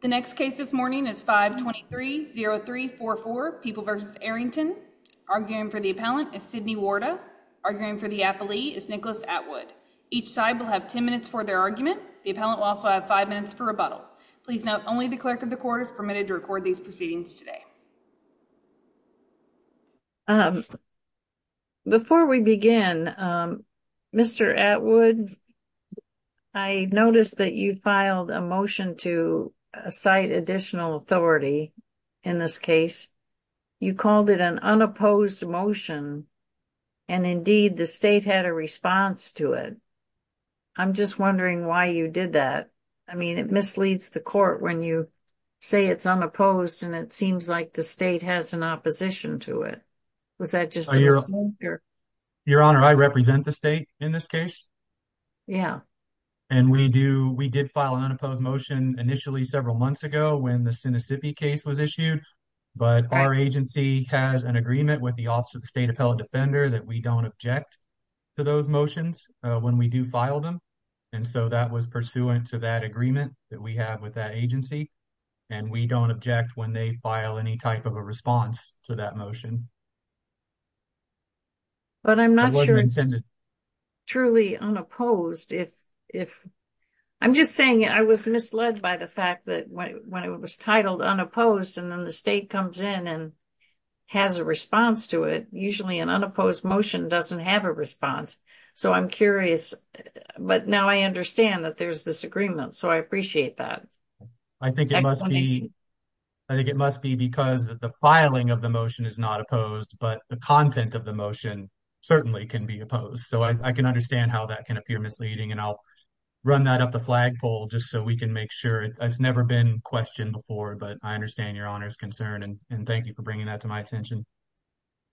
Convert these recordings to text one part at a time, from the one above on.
The next case this morning is 523-0344, People v. Arrington. Arguing for the appellant is Sydney Warda. Arguing for the appellee is Nicholas Atwood. Each side will have 10 minutes for their argument. The appellant will also have 5 minutes for rebuttal. Please note, only the clerk of the court is permitted to record these proceedings today. Before we begin, Mr. Atwood, I noticed that you filed a motion to cite additional authority in this case. You called it an unopposed motion, and indeed the state had a response to it. I'm just wondering why you did that. I mean, it misleads the court when you say it's unopposed and it seems like the state has an opposition to it. Was that just a mistake? Your Honor, I represent the state in this case. Yeah. And we did file an unopposed motion initially several months ago when the Sinisippi case was issued. But our agency has an agreement with the Office of the State Appellant Defender that we don't object to those motions when we do file them. And so that was pursuant to that agreement that we have with that agency. And we don't object when they file any type of a response to that motion. But I'm not sure it's truly unopposed. I'm just saying I was misled by the fact that when it was titled unopposed and then the state comes in and has a response to it, usually an unopposed motion doesn't have a response. So I'm curious. But now I understand that there's this agreement. So I appreciate that. I think it must be because the filing of the motion is not opposed, but the content of the motion certainly can be opposed. So I can understand how that can appear misleading. And I'll run that up the flagpole just so we can make sure. It's never been questioned before, but I understand Your Honor's concern. And thank you for bringing that to my attention.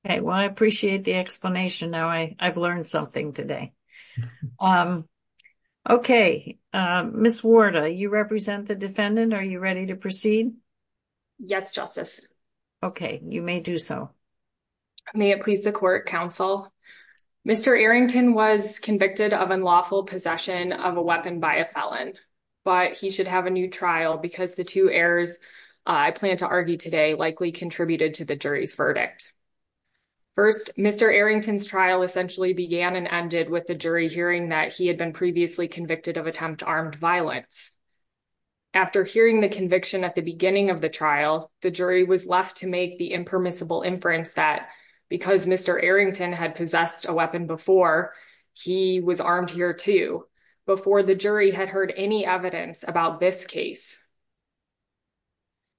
Okay. Well, I appreciate the explanation. Now I've learned something today. Okay. Ms. Warda, you represent the defendant. Are you ready to proceed? Yes, Justice. Okay. You may do so. May it please the court counsel. Mr. Arrington was convicted of unlawful possession of a weapon by a felon, but he should have a new trial because the two errors I plan to argue today likely contributed to the jury's verdict. First, Mr. Arrington's trial essentially began and ended with the jury hearing that he had been previously convicted of attempt armed violence. After hearing the conviction at the beginning of the trial, the jury was left to make the impermissible inference that because Mr. Arrington had possessed a weapon before, he was armed here too, before the jury had heard any evidence about this case.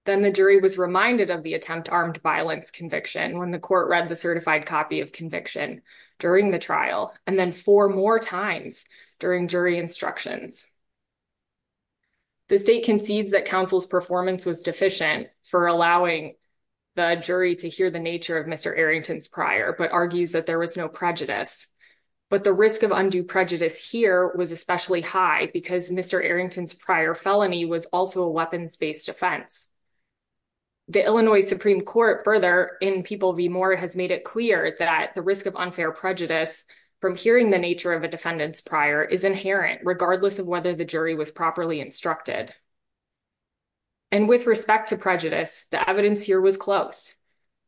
Then the jury was reminded of the attempt armed violence conviction when the court read a certified copy of conviction during the trial, and then four more times during jury instructions. The state concedes that counsel's performance was deficient for allowing the jury to hear the nature of Mr. Arrington's prior, but argues that there was no prejudice. But the risk of undue prejudice here was especially high because Mr. Arrington's prior felony was also a weapons based offense. The Illinois Supreme Court further in People v. Moore has made it clear that the risk of unfair prejudice from hearing the nature of a defendant's prior is inherent regardless of whether the jury was properly instructed. And with respect to prejudice, the evidence here was close.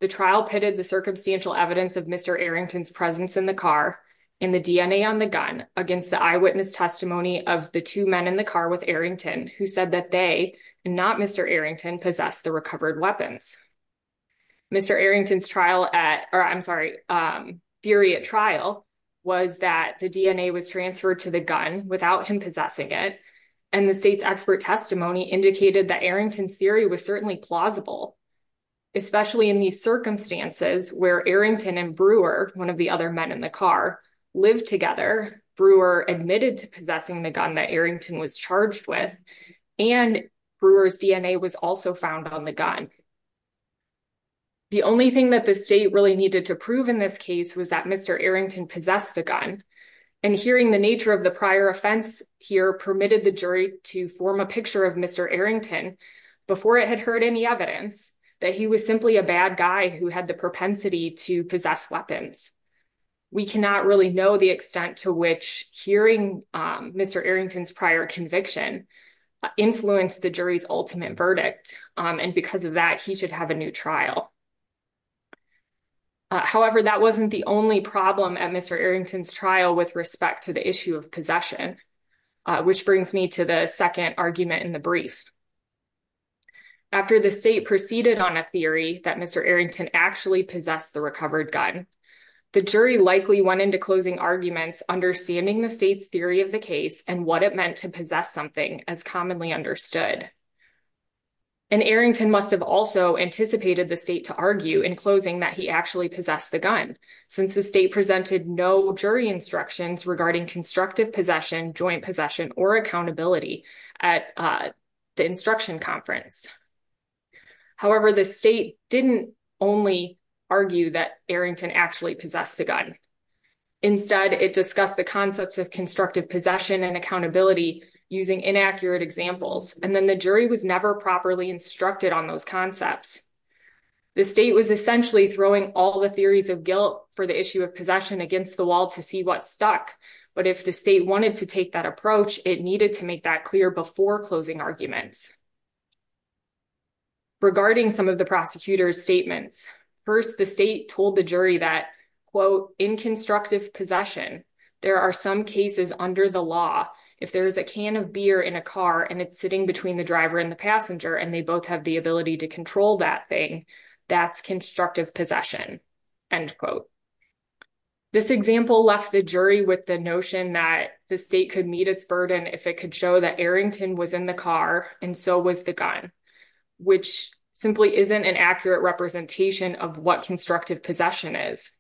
The trial pitted the circumstantial evidence of Mr. Arrington's presence in the car and the DNA on the gun against the eyewitness testimony of the two men in the car with who said that they, not Mr. Arrington, possessed the recovered weapons. Mr. Arrington's trial at, or I'm sorry, theory at trial was that the DNA was transferred to the gun without him possessing it, and the state's expert testimony indicated that Arrington's theory was certainly plausible, especially in these circumstances where Arrington and Brewer, one of the other men in the car, lived together. Brewer admitted to possessing the gun that Arrington was charged with, and Brewer's DNA was also found on the gun. The only thing that the state really needed to prove in this case was that Mr. Arrington possessed the gun, and hearing the nature of the prior offense here permitted the jury to form a picture of Mr. Arrington before it had heard any evidence that he was simply a bad guy who had the propensity to possess weapons. We cannot really know the extent to which hearing Mr. Arrington's prior conviction influenced the jury's ultimate verdict, and because of that he should have a new trial. However, that wasn't the only problem at Mr. Arrington's trial with respect to the issue of possession, which brings me to the second argument in the brief. After the state proceeded on a theory that Mr. Arrington actually possessed the recovered gun, the jury likely went into closing arguments understanding the state's theory of the case and what it meant to possess something as commonly understood. And Arrington must have also anticipated the state to argue in closing that he actually possessed the gun, since the presented no jury instructions regarding constructive possession, joint possession, or accountability at the instruction conference. However, the state didn't only argue that Arrington actually possessed the gun. Instead, it discussed the concepts of constructive possession and accountability using inaccurate examples, and then the jury was never properly instructed on those concepts. The state was essentially throwing all the theories of guilt for the possession against the wall to see what stuck, but if the state wanted to take that approach, it needed to make that clear before closing arguments. Regarding some of the prosecutor's statements, first the state told the jury that, quote, in constructive possession, there are some cases under the law if there is a can of beer in a car and it's sitting between the driver and the passenger and they both have the ability to that thing, that's constructive possession, end quote. This example left the jury with the notion that the state could meet its burden if it could show that Arrington was in the car and so was the gun, which simply isn't an accurate representation of what constructive possession is.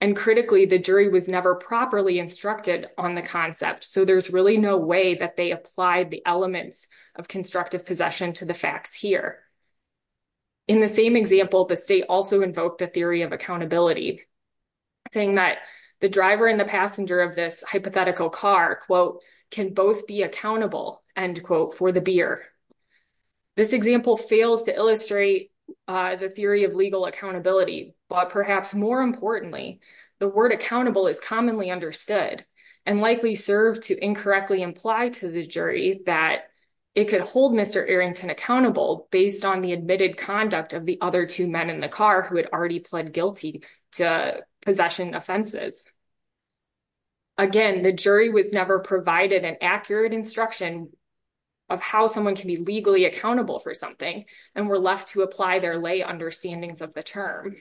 And critically, the jury was never properly instructed on the concept, so there's really no way that they the elements of constructive possession to the facts here. In the same example, the state also invoked the theory of accountability, saying that the driver and the passenger of this hypothetical car, quote, can both be accountable, end quote, for the beer. This example fails to illustrate the theory of legal accountability, but perhaps more importantly, the word accountable is understood and likely served to incorrectly imply to the jury that it could hold Mr. Arrington accountable based on the admitted conduct of the other two men in the car who had already pled guilty to possession offenses. Again, the jury was never provided an accurate instruction of how someone can be legally accountable for something and were left to apply their lay understandings of the term.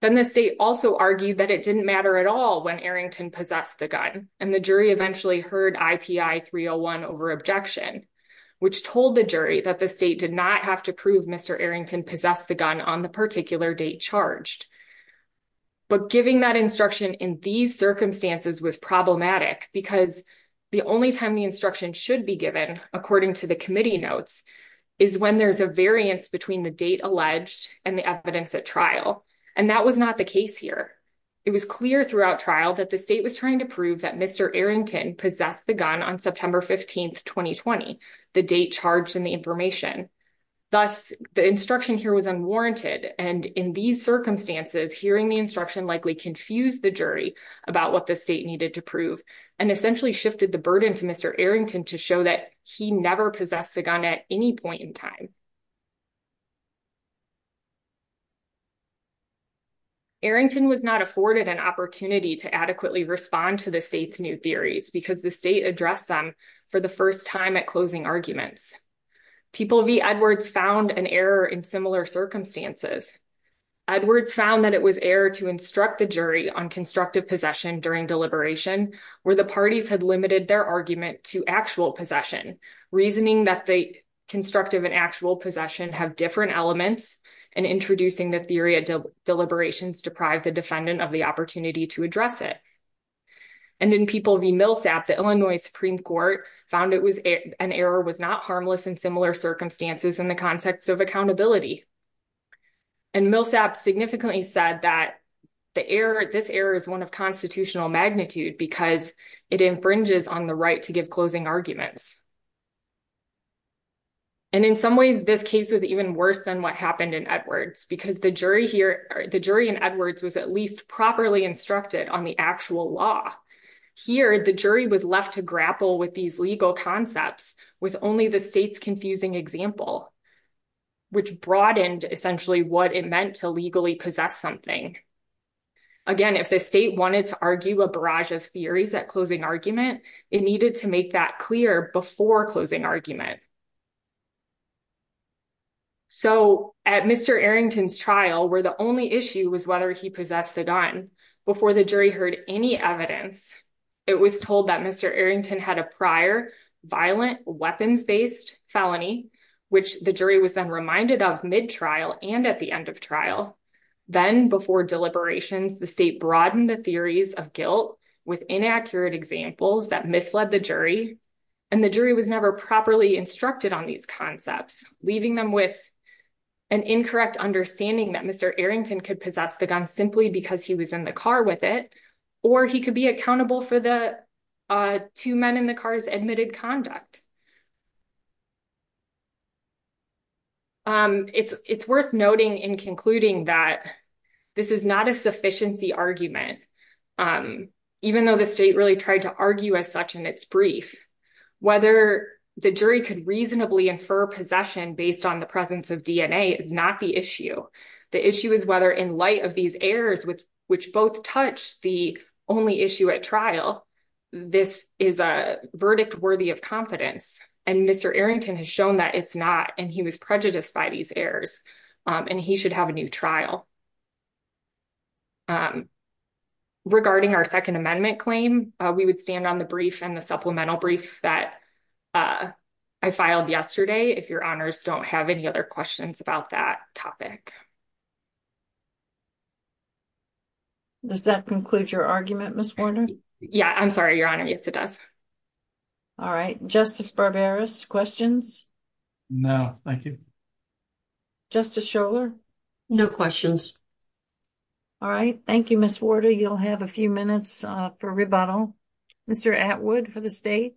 Then the state also argued that it didn't matter at all when Arrington possessed the gun, and the jury eventually heard IPI 301 over objection, which told the jury that the state did not have to prove Mr. Arrington possessed the gun on the particular date charged. But giving that instruction in these circumstances was problematic because the only time the instruction should be given, according to the committee notes, is when there's a variance between the date alleged and the evidence at trial, and that was not the case here. It was clear throughout trial that the state was trying to prove that Mr. Arrington possessed the gun on September 15th, 2020, the date charged in the information. Thus, the instruction here was unwarranted, and in these circumstances, hearing the instruction likely confused the jury about what the state needed to prove and essentially shifted the burden to Mr. Arrington to show that he never possessed the gun at any point in time. Arrington was not afforded an opportunity to adequately respond to the state's new theories because the state addressed them for the first time at closing arguments. People v. Edwards found an error in similar circumstances. Edwards found that it was error to instruct the jury on constructive possession during deliberation, where the parties had limited their argument to actual possession, reasoning that the constructive and actual possession have different elements, and introducing the theory of deliberations deprived the defendant of the opportunity to address it. And then people v. Millsap, the Illinois Supreme Court, found an error was not harmless in similar circumstances in the context of accountability. And Millsap significantly said that this error is one of constitutional magnitude because it infringes on the right to give closing arguments. And in some ways, this case was even worse than what happened in Edwards, because the jury here, the jury in Edwards was at least properly instructed on the actual law. Here, the jury was left to grapple with these legal concepts with only the state's confusing example, which broadened essentially what it meant to legally possess something. Again, if the state wanted to argue a barrage of theories at closing argument, it needed to make that clear by closing argument. So at Mr. Arrington's trial, where the only issue was whether he possessed the gun, before the jury heard any evidence, it was told that Mr. Arrington had a prior violent weapons-based felony, which the jury was then reminded of mid-trial and at the end of trial. Then before deliberations, the state broadened the theories of guilt with inaccurate examples that misled the jury. And the jury was never properly instructed on these concepts, leaving them with an incorrect understanding that Mr. Arrington could possess the gun simply because he was in the car with it, or he could be accountable for the two men in the car's admitted conduct. It's worth noting in concluding that this is not a sufficiency argument. Even though the state really tried to argue as such in its brief, whether the jury could reasonably infer possession based on the presence of DNA is not the issue. The issue is whether in light of these errors, which both touch the only issue at trial, this is a verdict worthy of confidence. And Mr. Arrington has shown that it's not, and he was prejudiced by these errors, and he should have a new trial. Regarding our Second Amendment claim, we would stand on the brief and the supplemental brief that I filed yesterday, if your honors don't have any other questions about that topic. Does that conclude your argument, Ms. Warner? Yeah, I'm sorry, your honor. Yes, it does. All right. Justice Barberis, questions? No, thank you. Justice Schorler? No questions. All right. Thank you, Ms. Warner. You'll have a few minutes for rebuttal. Mr. Atwood for the state.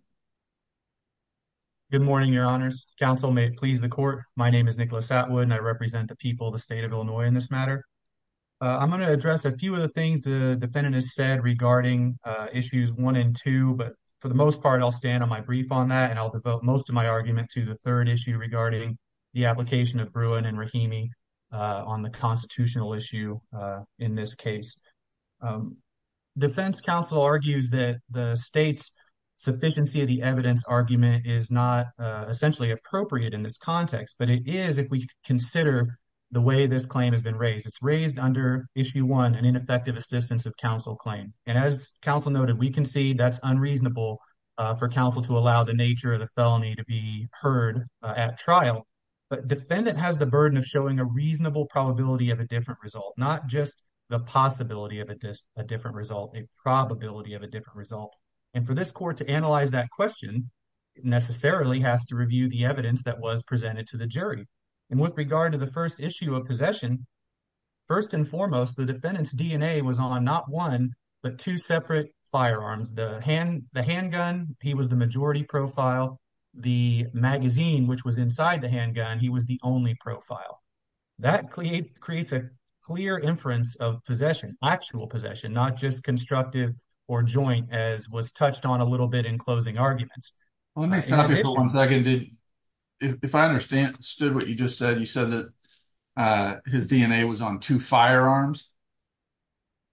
Good morning, your honors. Counsel may please the court. My name is Nicholas Atwood, and I represent the people of the state of Illinois in this matter. I'm going to address a few of the things the defendant has said regarding issues one and two, but for the most part, I'll stand on my brief on that, and I'll devote most of my argument to the issue regarding the application of Bruin and Rahimi on the constitutional issue in this case. Defense counsel argues that the state's sufficiency of the evidence argument is not essentially appropriate in this context, but it is if we consider the way this claim has been raised. It's raised under issue one, an ineffective assistance of counsel claim, and as counsel noted, we can see that's unreasonable for counsel to allow the nature of the felony to be heard at trial, but defendant has the burden of showing a reasonable probability of a different result, not just the possibility of a different result, a probability of a different result. And for this court to analyze that question, it necessarily has to review the evidence that was presented to the jury. And with regard to the first issue of possession, first and foremost, the defendant's DNA was on not one, but two separate firearms. The handgun, he was the majority profile. The magazine, which was inside the handgun, he was the only profile. That creates a clear inference of possession, actual possession, not just constructive or joint as was touched on a little bit in closing arguments. Let me stop you for one second. If I understood what you just said, you said that his DNA was on two firearms.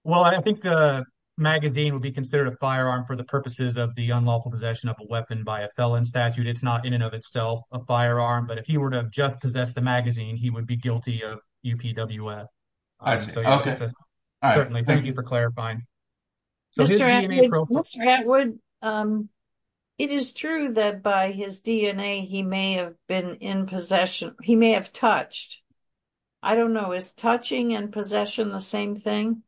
Well, I think the magazine would be considered a firearm for the purposes of the unlawful possession of a weapon by a felon statute. It's not in and of itself a firearm, but if he were to have just possessed the magazine, he would be guilty of UPWF. Certainly, thank you for clarifying. Mr. Atwood, it is true that by his DNA, he may have been in possession. He may have touched. I don't know. Is touching and possession the same thing?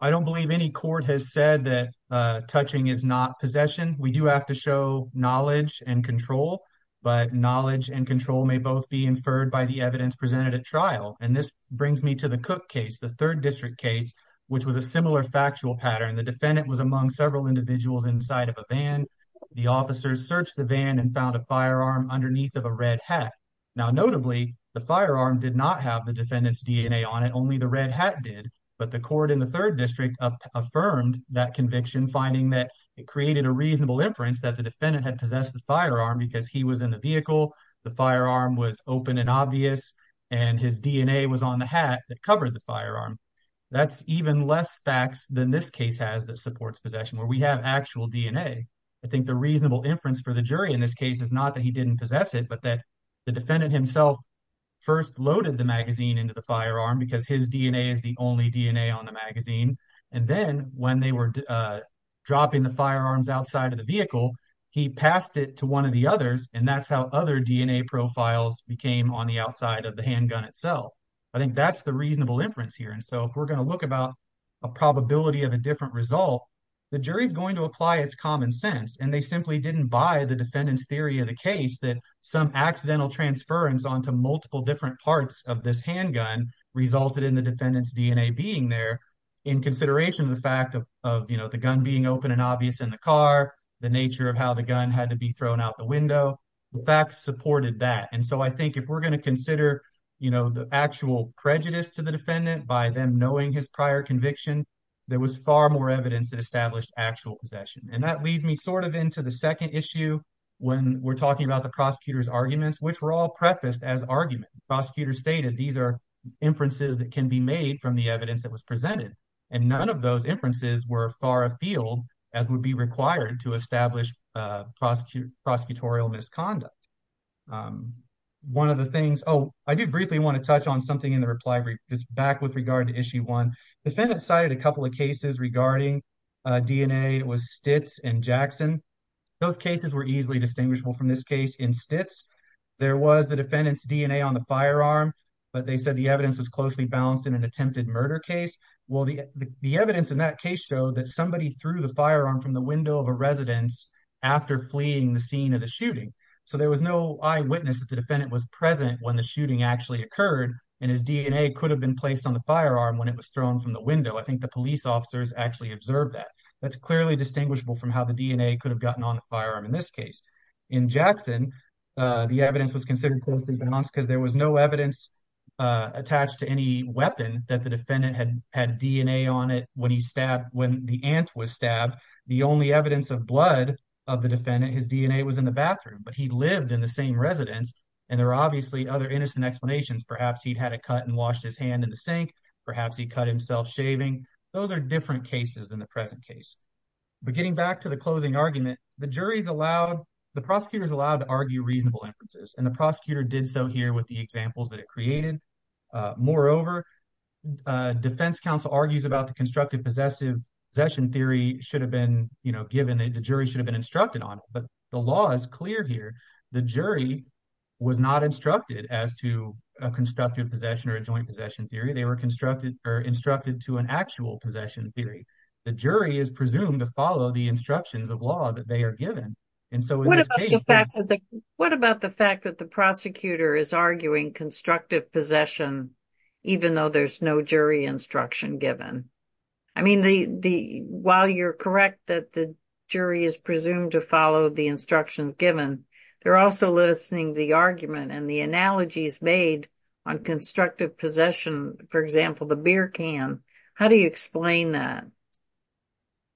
I don't believe any court has said that touching is not possession. We do have to show knowledge and control, but knowledge and control may both be inferred by the evidence presented at trial. And this brings me to the Cook case, the third district case, which was a similar factual pattern. The defendant was among several individuals inside of a van. The officers searched the van and found a firearm underneath of a red hat. Now, notably, the firearm did not have the defendant's DNA on it. Only the red hat did. But the court in the third district affirmed that conviction, finding that it created a reasonable inference that the defendant had possessed the firearm because he was in the vehicle, the firearm was open and obvious, and his DNA was on the hat that covered the firearm. That's even less facts than this case has that supports possession, where we have actual DNA. I think the reasonable inference for the jury in this case is not that he didn't possess it, but that the defendant himself first loaded the magazine into the firearm because his DNA is the only DNA on the magazine. And then when they were dropping the firearms outside of the vehicle, he passed it to one of the others. And that's how other DNA profiles became on the outside of the handgun itself. I think that's the reasonable inference here. And so if we're going to look about a probability of a different result, the jury is going to apply its common sense. And they simply didn't buy the defendant's theory of the case that some accidental transference onto multiple different parts of this handgun resulted in the defendant's DNA being there in consideration of the fact of the gun being open and obvious in the car, the nature of how the gun had to be thrown out the window. The facts supported that. And so I think if we're going to the actual prejudice to the defendant by them knowing his prior conviction, there was far more evidence that established actual possession. And that leads me sort of into the second issue when we're talking about the prosecutor's arguments, which were all prefaced as argument. Prosecutors stated these are inferences that can be made from the evidence that was presented. And none of those inferences were far afield as would be required to establish prosecutorial misconduct. One of the things, oh, I do briefly want to touch on something in the reply brief is back with regard to issue one. Defendant cited a couple of cases regarding DNA was Stitz and Jackson. Those cases were easily distinguishable from this case in Stitz. There was the defendant's DNA on the firearm, but they said the evidence was closely balanced in an attempted murder case. Well, the evidence in that case showed that somebody threw the firearm from the window of residence after fleeing the scene of the shooting. So there was no eyewitness that the defendant was present when the shooting actually occurred. And his DNA could have been placed on the firearm when it was thrown from the window. I think the police officers actually observed that. That's clearly distinguishable from how the DNA could have gotten on the firearm in this case. In Jackson, the evidence was considered closely balanced because there was no evidence attached to any weapon that had DNA on it. When he stabbed, when the ant was stabbed, the only evidence of blood of the defendant, his DNA was in the bathroom, but he lived in the same residence. And there are obviously other innocent explanations. Perhaps he'd had a cut and washed his hand in the sink. Perhaps he cut himself shaving. Those are different cases than the present case. But getting back to the closing argument, the jury's allowed, the prosecutor's allowed to argue reasonable inferences. And the defense counsel argues about the constructive possession theory should have been given, the jury should have been instructed on it. But the law is clear here. The jury was not instructed as to a constructive possession or a joint possession theory. They were instructed to an actual possession theory. The jury is presumed to follow the instructions of law that they are given. And so what about the fact that the prosecutor is arguing constructive possession, even though there's no jury instruction given? I mean, while you're correct that the jury is presumed to follow the instructions given, they're also listening to the argument and the analogies made on constructive possession. For example, the beer can. How do you explain that?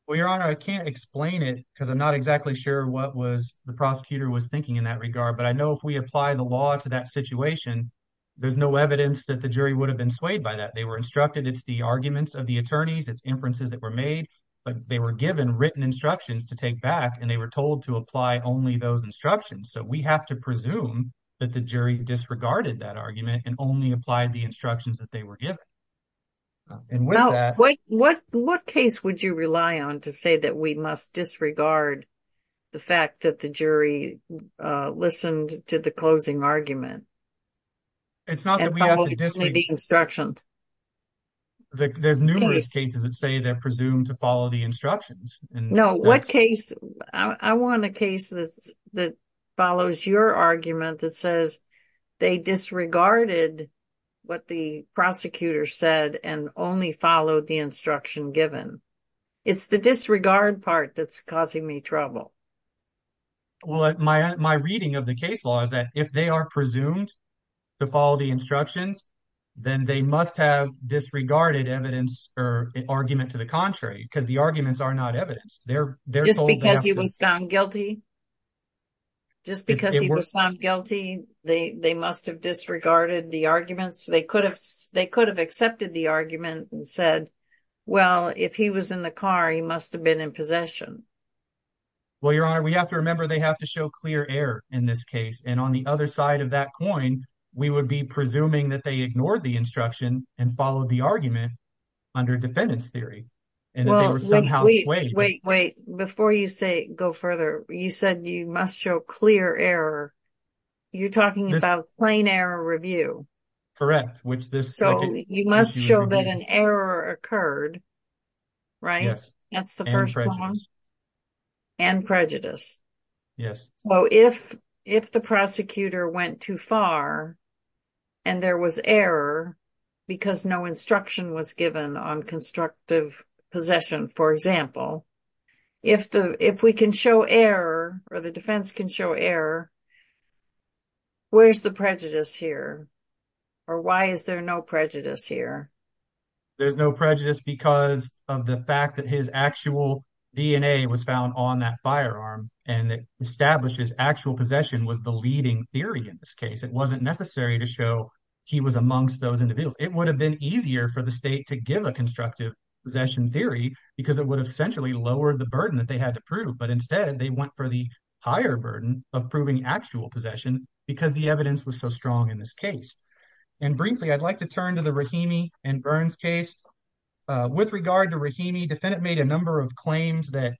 Well, Your Honor, I can't explain it because I'm not exactly sure what was the prosecutor was thinking in that regard. But I know if we apply the law to that situation, there's no evidence that the jury would have been swayed by that. They were instructed. It's the arguments of the attorneys, it's inferences that were made, but they were given written instructions to take back and they were told to apply only those instructions. So we have to presume that the jury disregarded that argument and only applied the instructions that they were given. And with that, what case would you rely on to say that we must disregard the fact that the jury listened to the closing argument? It's not that we have to disregard the instructions. There's numerous cases that say they're presumed to follow the instructions. No, what case? I want a case that follows your argument that says they disregarded what the prosecutor said and only followed the instruction given. It's the disregard part that's causing me trouble. Well, my reading of the case law is that if they are presumed to follow the instructions, then they must have disregarded evidence or argument to the contrary because the arguments are not evidence. Just because he was found guilty, they must have disregarded the arguments. They could have accepted the argument and said, well, if he was in the car, he must have been in possession. Well, Your Honor, we have to remember they have to show clear error in this case. And on the other side of that coin, we would be presuming that they ignored the instruction and followed the argument under defendant's theory and that they were somehow swayed. Wait, wait, wait. Before you say go further, you said you must show clear error. You're talking about plain error review. Correct. So you must show that an error occurred. Right. That's the first one. And prejudice. Yes. So if the prosecutor went too far and there was error because no instruction was given on constructive possession, for example, if we can show error or the defense can show error, where's the prejudice here? Or why is there no prejudice here? There's no prejudice because of the fact that his actual DNA was found on that firearm and it establishes actual possession was the leading theory in this case. It wasn't necessary to show he was amongst those individuals. It would have been easier for the state to give a constructive possession theory because it would have centrally lowered the burden that they had to prove. But instead, they went for the higher burden of proving actual possession because the evidence was so strong in this case. And briefly, I'd like to turn to the Rahimi and Burns case with regard to Rahimi. Defendant made a number of claims that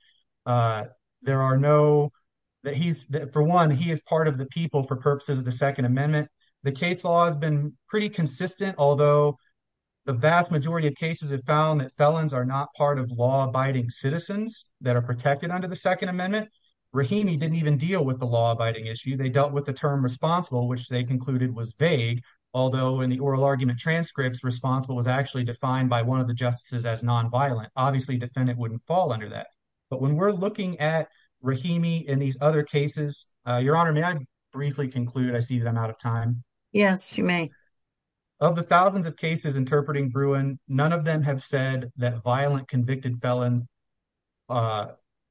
there are no that he's for one, he is part of the people for purposes of the Second Amendment. The case law has been pretty consistent, although the vast majority of cases have found that felons are not part of law abiding citizens that are protected under the Second Amendment. Rahimi didn't even with the law abiding issue. They dealt with the term responsible, which they concluded was vague, although in the oral argument transcripts responsible was actually defined by one of the justices as nonviolent. Obviously, defendant wouldn't fall under that. But when we're looking at Rahimi in these other cases, Your Honor, may I briefly conclude? I see that I'm out of time. Yes, you may. Of the thousands of cases interpreting Bruin, none of them have said that violent convicted felon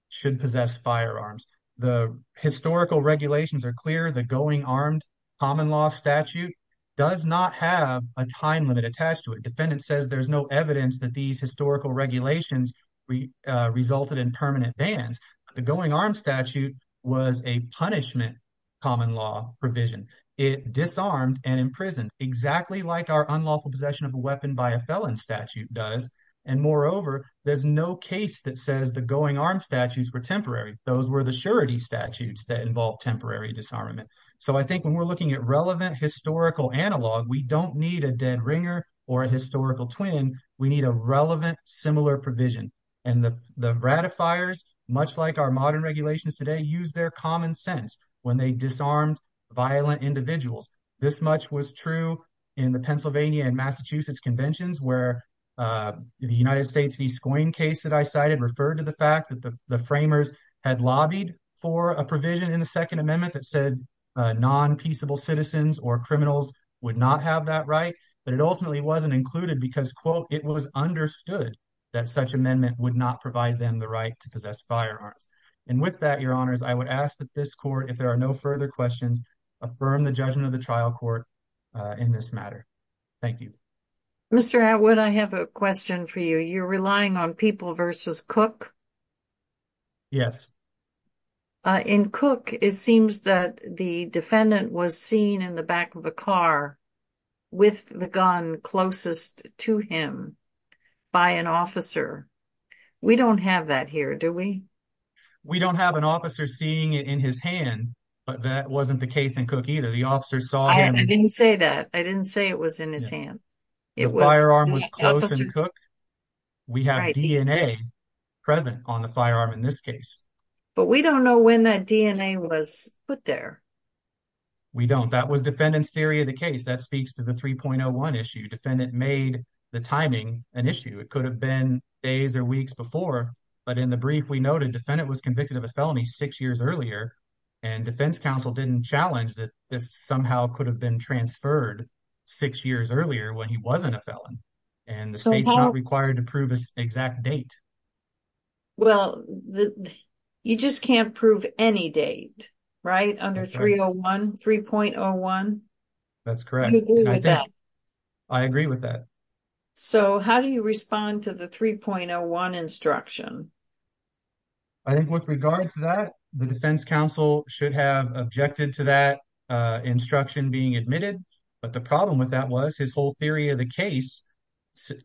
should possess firearms. The historical regulations are clear. The going armed common law statute does not have a time limit attached to it. Defendant says there's no evidence that these historical regulations resulted in permanent bans. The going armed statute was a punishment common law provision. It disarmed and imprisoned exactly like our unlawful possession of a weapon by a felon statute does. And moreover, there's no case that says the going armed statutes were temporary. Those were the surety statutes that involve temporary disarmament. So I think when we're looking at relevant historical analog, we don't need a dead ringer or a historical twin. We need a relevant, similar provision. And the ratifiers, much like our modern regulations today, use their common sense when they disarmed violent individuals. This much was true in the Pennsylvania and Massachusetts conventions where the United States v. Scoin case that I cited referred to the fact that the framers had lobbied for a provision in the second amendment that said non-peaceable citizens or criminals would not have that right. But it ultimately wasn't included because, quote, it was understood that such amendment would not provide them the right to possess firearms. And with that, your honors, I would ask that this court, if there are no further questions, affirm the judgment of the trial court in this matter. Thank you. Mr. Atwood, I have a question for you. You're relying on People v. Cook? Yes. In Cook, it seems that the defendant was seen in the back of the car with the gun closest to him by an officer. We don't have that here, do we? We don't have an officer seeing it in his hand, but that wasn't the case in Cook either. The officer saw him. I didn't say that. I didn't say it was in his hand. The firearm was close in Cook. We have DNA present on the firearm in this case. But we don't know when that DNA was put there. We don't. That was defendant's theory of the case. That speaks to the 3.01 issue. Defendant made the timing an issue. It could have been days or weeks before. But in the brief, we noted defendant was convicted of a felony six years earlier. And defense counsel didn't challenge that this somehow could have been transferred six years earlier when he wasn't a felon. And the state's not required to prove his exact date. Well, you just can't prove any date, right? Under 3.01? That's correct. I agree with that. So how do you respond to the 3.01 instruction? I think with regard to that, the defense counsel should have objected to that instruction being admitted. But the problem with that was his whole theory of the case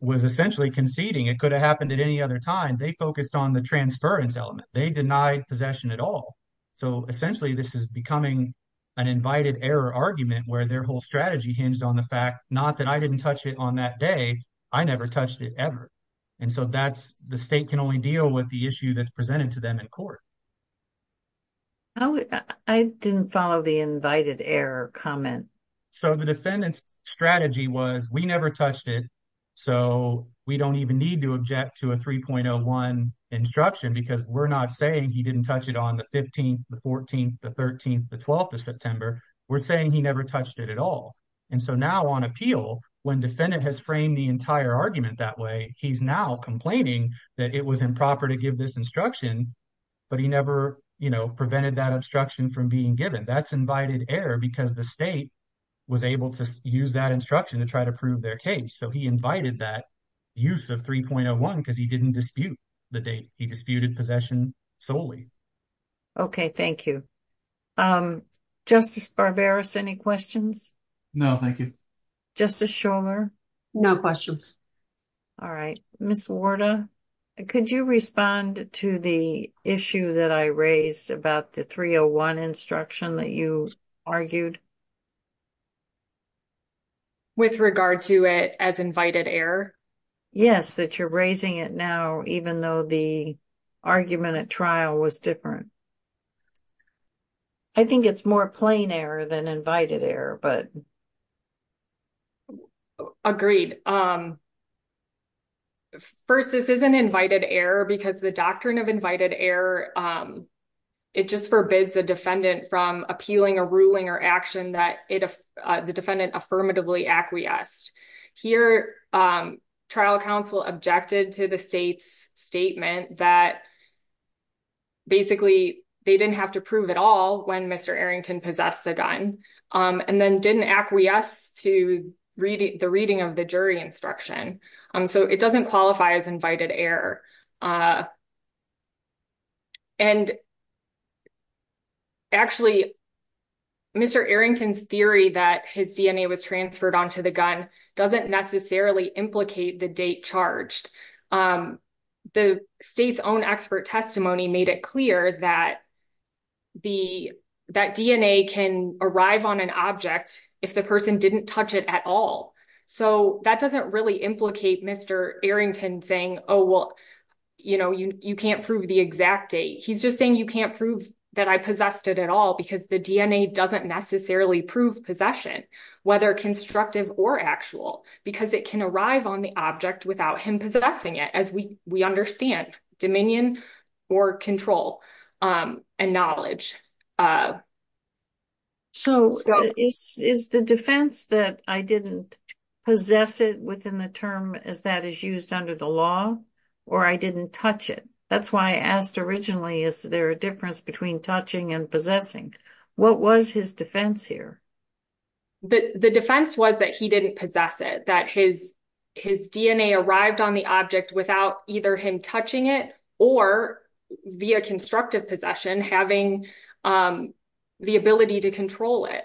was essentially conceding. It could have happened at any other time. They focused on the transference element. They denied possession at all. So essentially, this is becoming an invited error argument where their whole strategy hinged on the fact not that I didn't touch it on that day, I never touched it ever. And so that's the state can only deal with the issue that's presented to them in court. I didn't follow the invited error comment. So the defendant's strategy was we never touched it. So we don't even need to object to a 3.01 instruction because we're not saying he didn't touch it on the 15th, the 14th, the 13th, the 12th of September. We're saying he never touched it at all. And so now on appeal, when defendant has framed the entire argument that way, he's now complaining that it was improper to give this instruction, but he never prevented that obstruction from being given. That's invited error because the state was able to use that instruction to try to prove their case. So he invited that use of 3.01 because he didn't dispute the date. He disputed possession solely. Okay, thank you. Justice Barbaros, any questions? No, thank you. Justice Shuler? No questions. All right. Ms. Warda, could you respond to the issue that I raised about the 3.01 instruction that you argued? With regard to it as invited error? Yes, that you're raising it now even though the argument at trial was different. I think it's more plain error than invited error, but... Agreed. First, this isn't invited error because the doctrine of invited error, it just forbids a defendant from appealing a ruling or action that the defendant affirmatively acquiesced. Here, trial counsel objected to the state's statement that basically they didn't have to prove at all when Mr. Arrington possessed the gun, and then didn't acquiesce to the reading of the jury instruction. So it doesn't qualify as invited error. And actually, Mr. Arrington's theory that his DNA was transferred onto the gun doesn't necessarily implicate the date charged. The state's own expert testimony made it clear that DNA can arrive on an object if the person didn't touch it at all. So that doesn't really Mr. Arrington saying, oh, well, you can't prove the exact date. He's just saying you can't prove that I possessed it at all because the DNA doesn't necessarily prove possession, whether constructive or actual, because it can arrive on the object without him possessing it, as we understand dominion or control and knowledge. So is the defense that I didn't possess it within the term as that is used under the law, or I didn't touch it? That's why I asked originally, is there a difference between touching and possessing? What was his defense here? The defense was that he didn't possess it, that his DNA arrived on the object without either him touching it or via constructive possession having the ability to control it.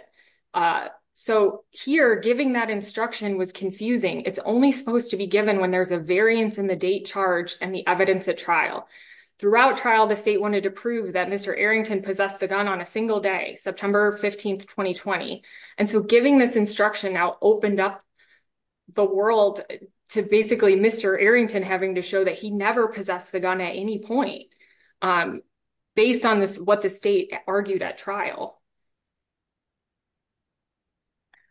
So here, giving that instruction was confusing. It's only supposed to be given when there's a variance in the date charged and the evidence at trial. Throughout trial, the state wanted to prove that Mr. Arrington possessed the gun on a single day, September 15th, 2020. And so giving this instruction now opened up the world to basically Mr. Arrington having to show that he never possessed the gun at any point based on what the state argued at trial.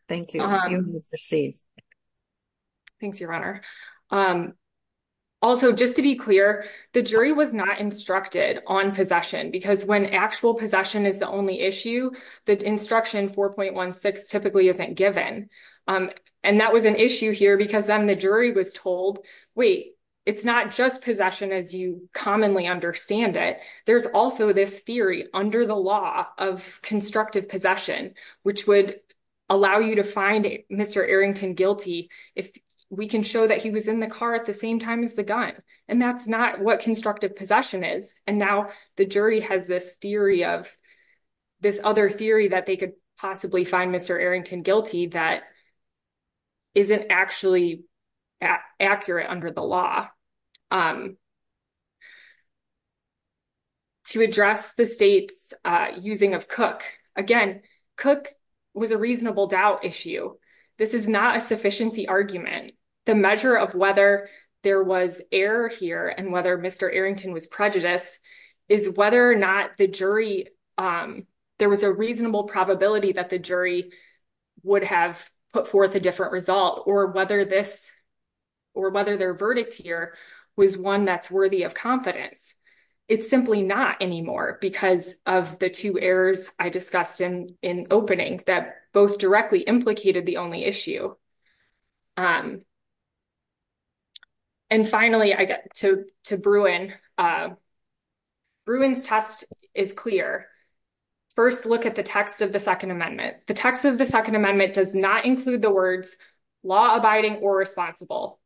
Thank you. Thanks, Your Honor. Also, just to be clear, the jury was not instructed on possession because when actual possession is the only issue, the instruction 4.16 typically isn't given. And that was an issue here because then the jury was told, wait, it's not just possession as you commonly understand it. There's also this theory under the law of constructive possession, which would allow you to find Mr. Arrington guilty if we can show that he was in the car at the same time as the gun. And that's not what constructive possession is. And now the jury has this theory of this other theory that they could possibly find Mr. Arrington guilty that isn't actually accurate under the law. To address the state's using of Cook, again, Cook was a reasonable doubt issue. This is not a sufficiency argument. The measure of whether there was error here and whether Mr. Arrington was prejudiced is whether or not the jury, there was a reasonable probability that the jury would have put forth a different result or whether their verdict here was one that's worthy of confidence. It's simply not anymore because of the two errors I discussed in opening that both directly implicated the only issue. And finally, to Bruin, Bruin's test is clear. First, look at the text of the Second Amendment. The text of the Second Amendment does not include the words law abiding or responsible.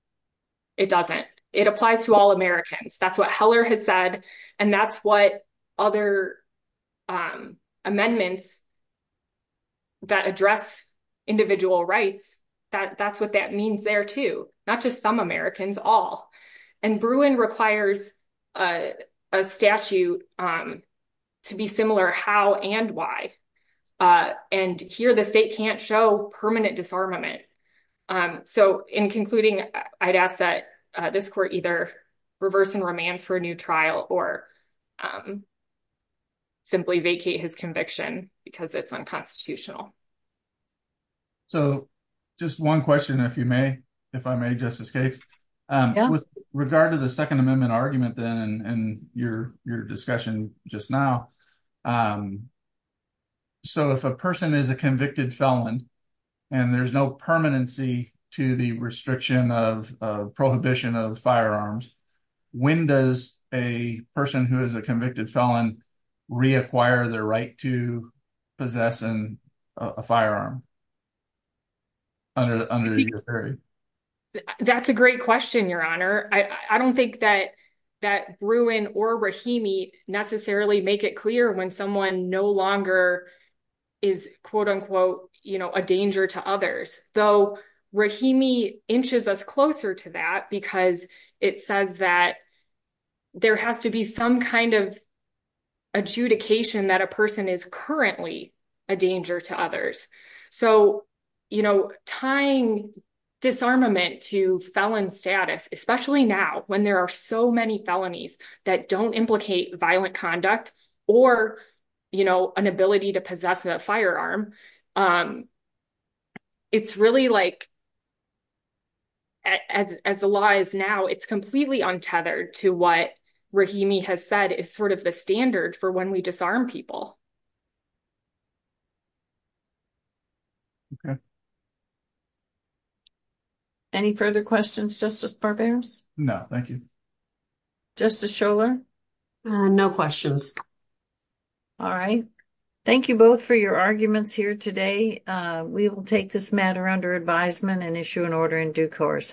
It doesn't. It applies to all Americans. That's what Heller has said. And that's what other amendments that address individual rights, that that's what that not just some Americans, all. And Bruin requires a statute to be similar how and why. And here the state can't show permanent disarmament. So in concluding, I'd ask that this court either reverse and remand for a new trial or simply vacate his conviction because it's unconstitutional. So just one question, if you may, if I may, Justice Cates, with regard to the Second Amendment argument then and your discussion just now. So if a person is a convicted felon and there's no permanency to the restriction of prohibition of firearms, when does a person who is a convicted felon reacquire their right to possess a firearm? That's a great question, Your Honor. I don't think that that Bruin or Rahimi necessarily make it clear when someone no longer is, quote unquote, you know, a danger to others. Though Rahimi inches us closer to that because it says that there has to be some kind of adjudication that a person is currently a danger to others. So, you know, tying disarmament to felon status, especially now when there are so many felonies that don't implicate violent conduct or, you know, an ability to possess a firearm, it's really like, as the law is now, it's completely untethered to what Rahimi has said is sort of the standard for when we disarm people. Okay. Any further questions, Justice Barbier? No, thank you. Justice Scholar? No questions. All right. Thank you both for your arguments here today. We will take this matter under advisement and issue an order in due course.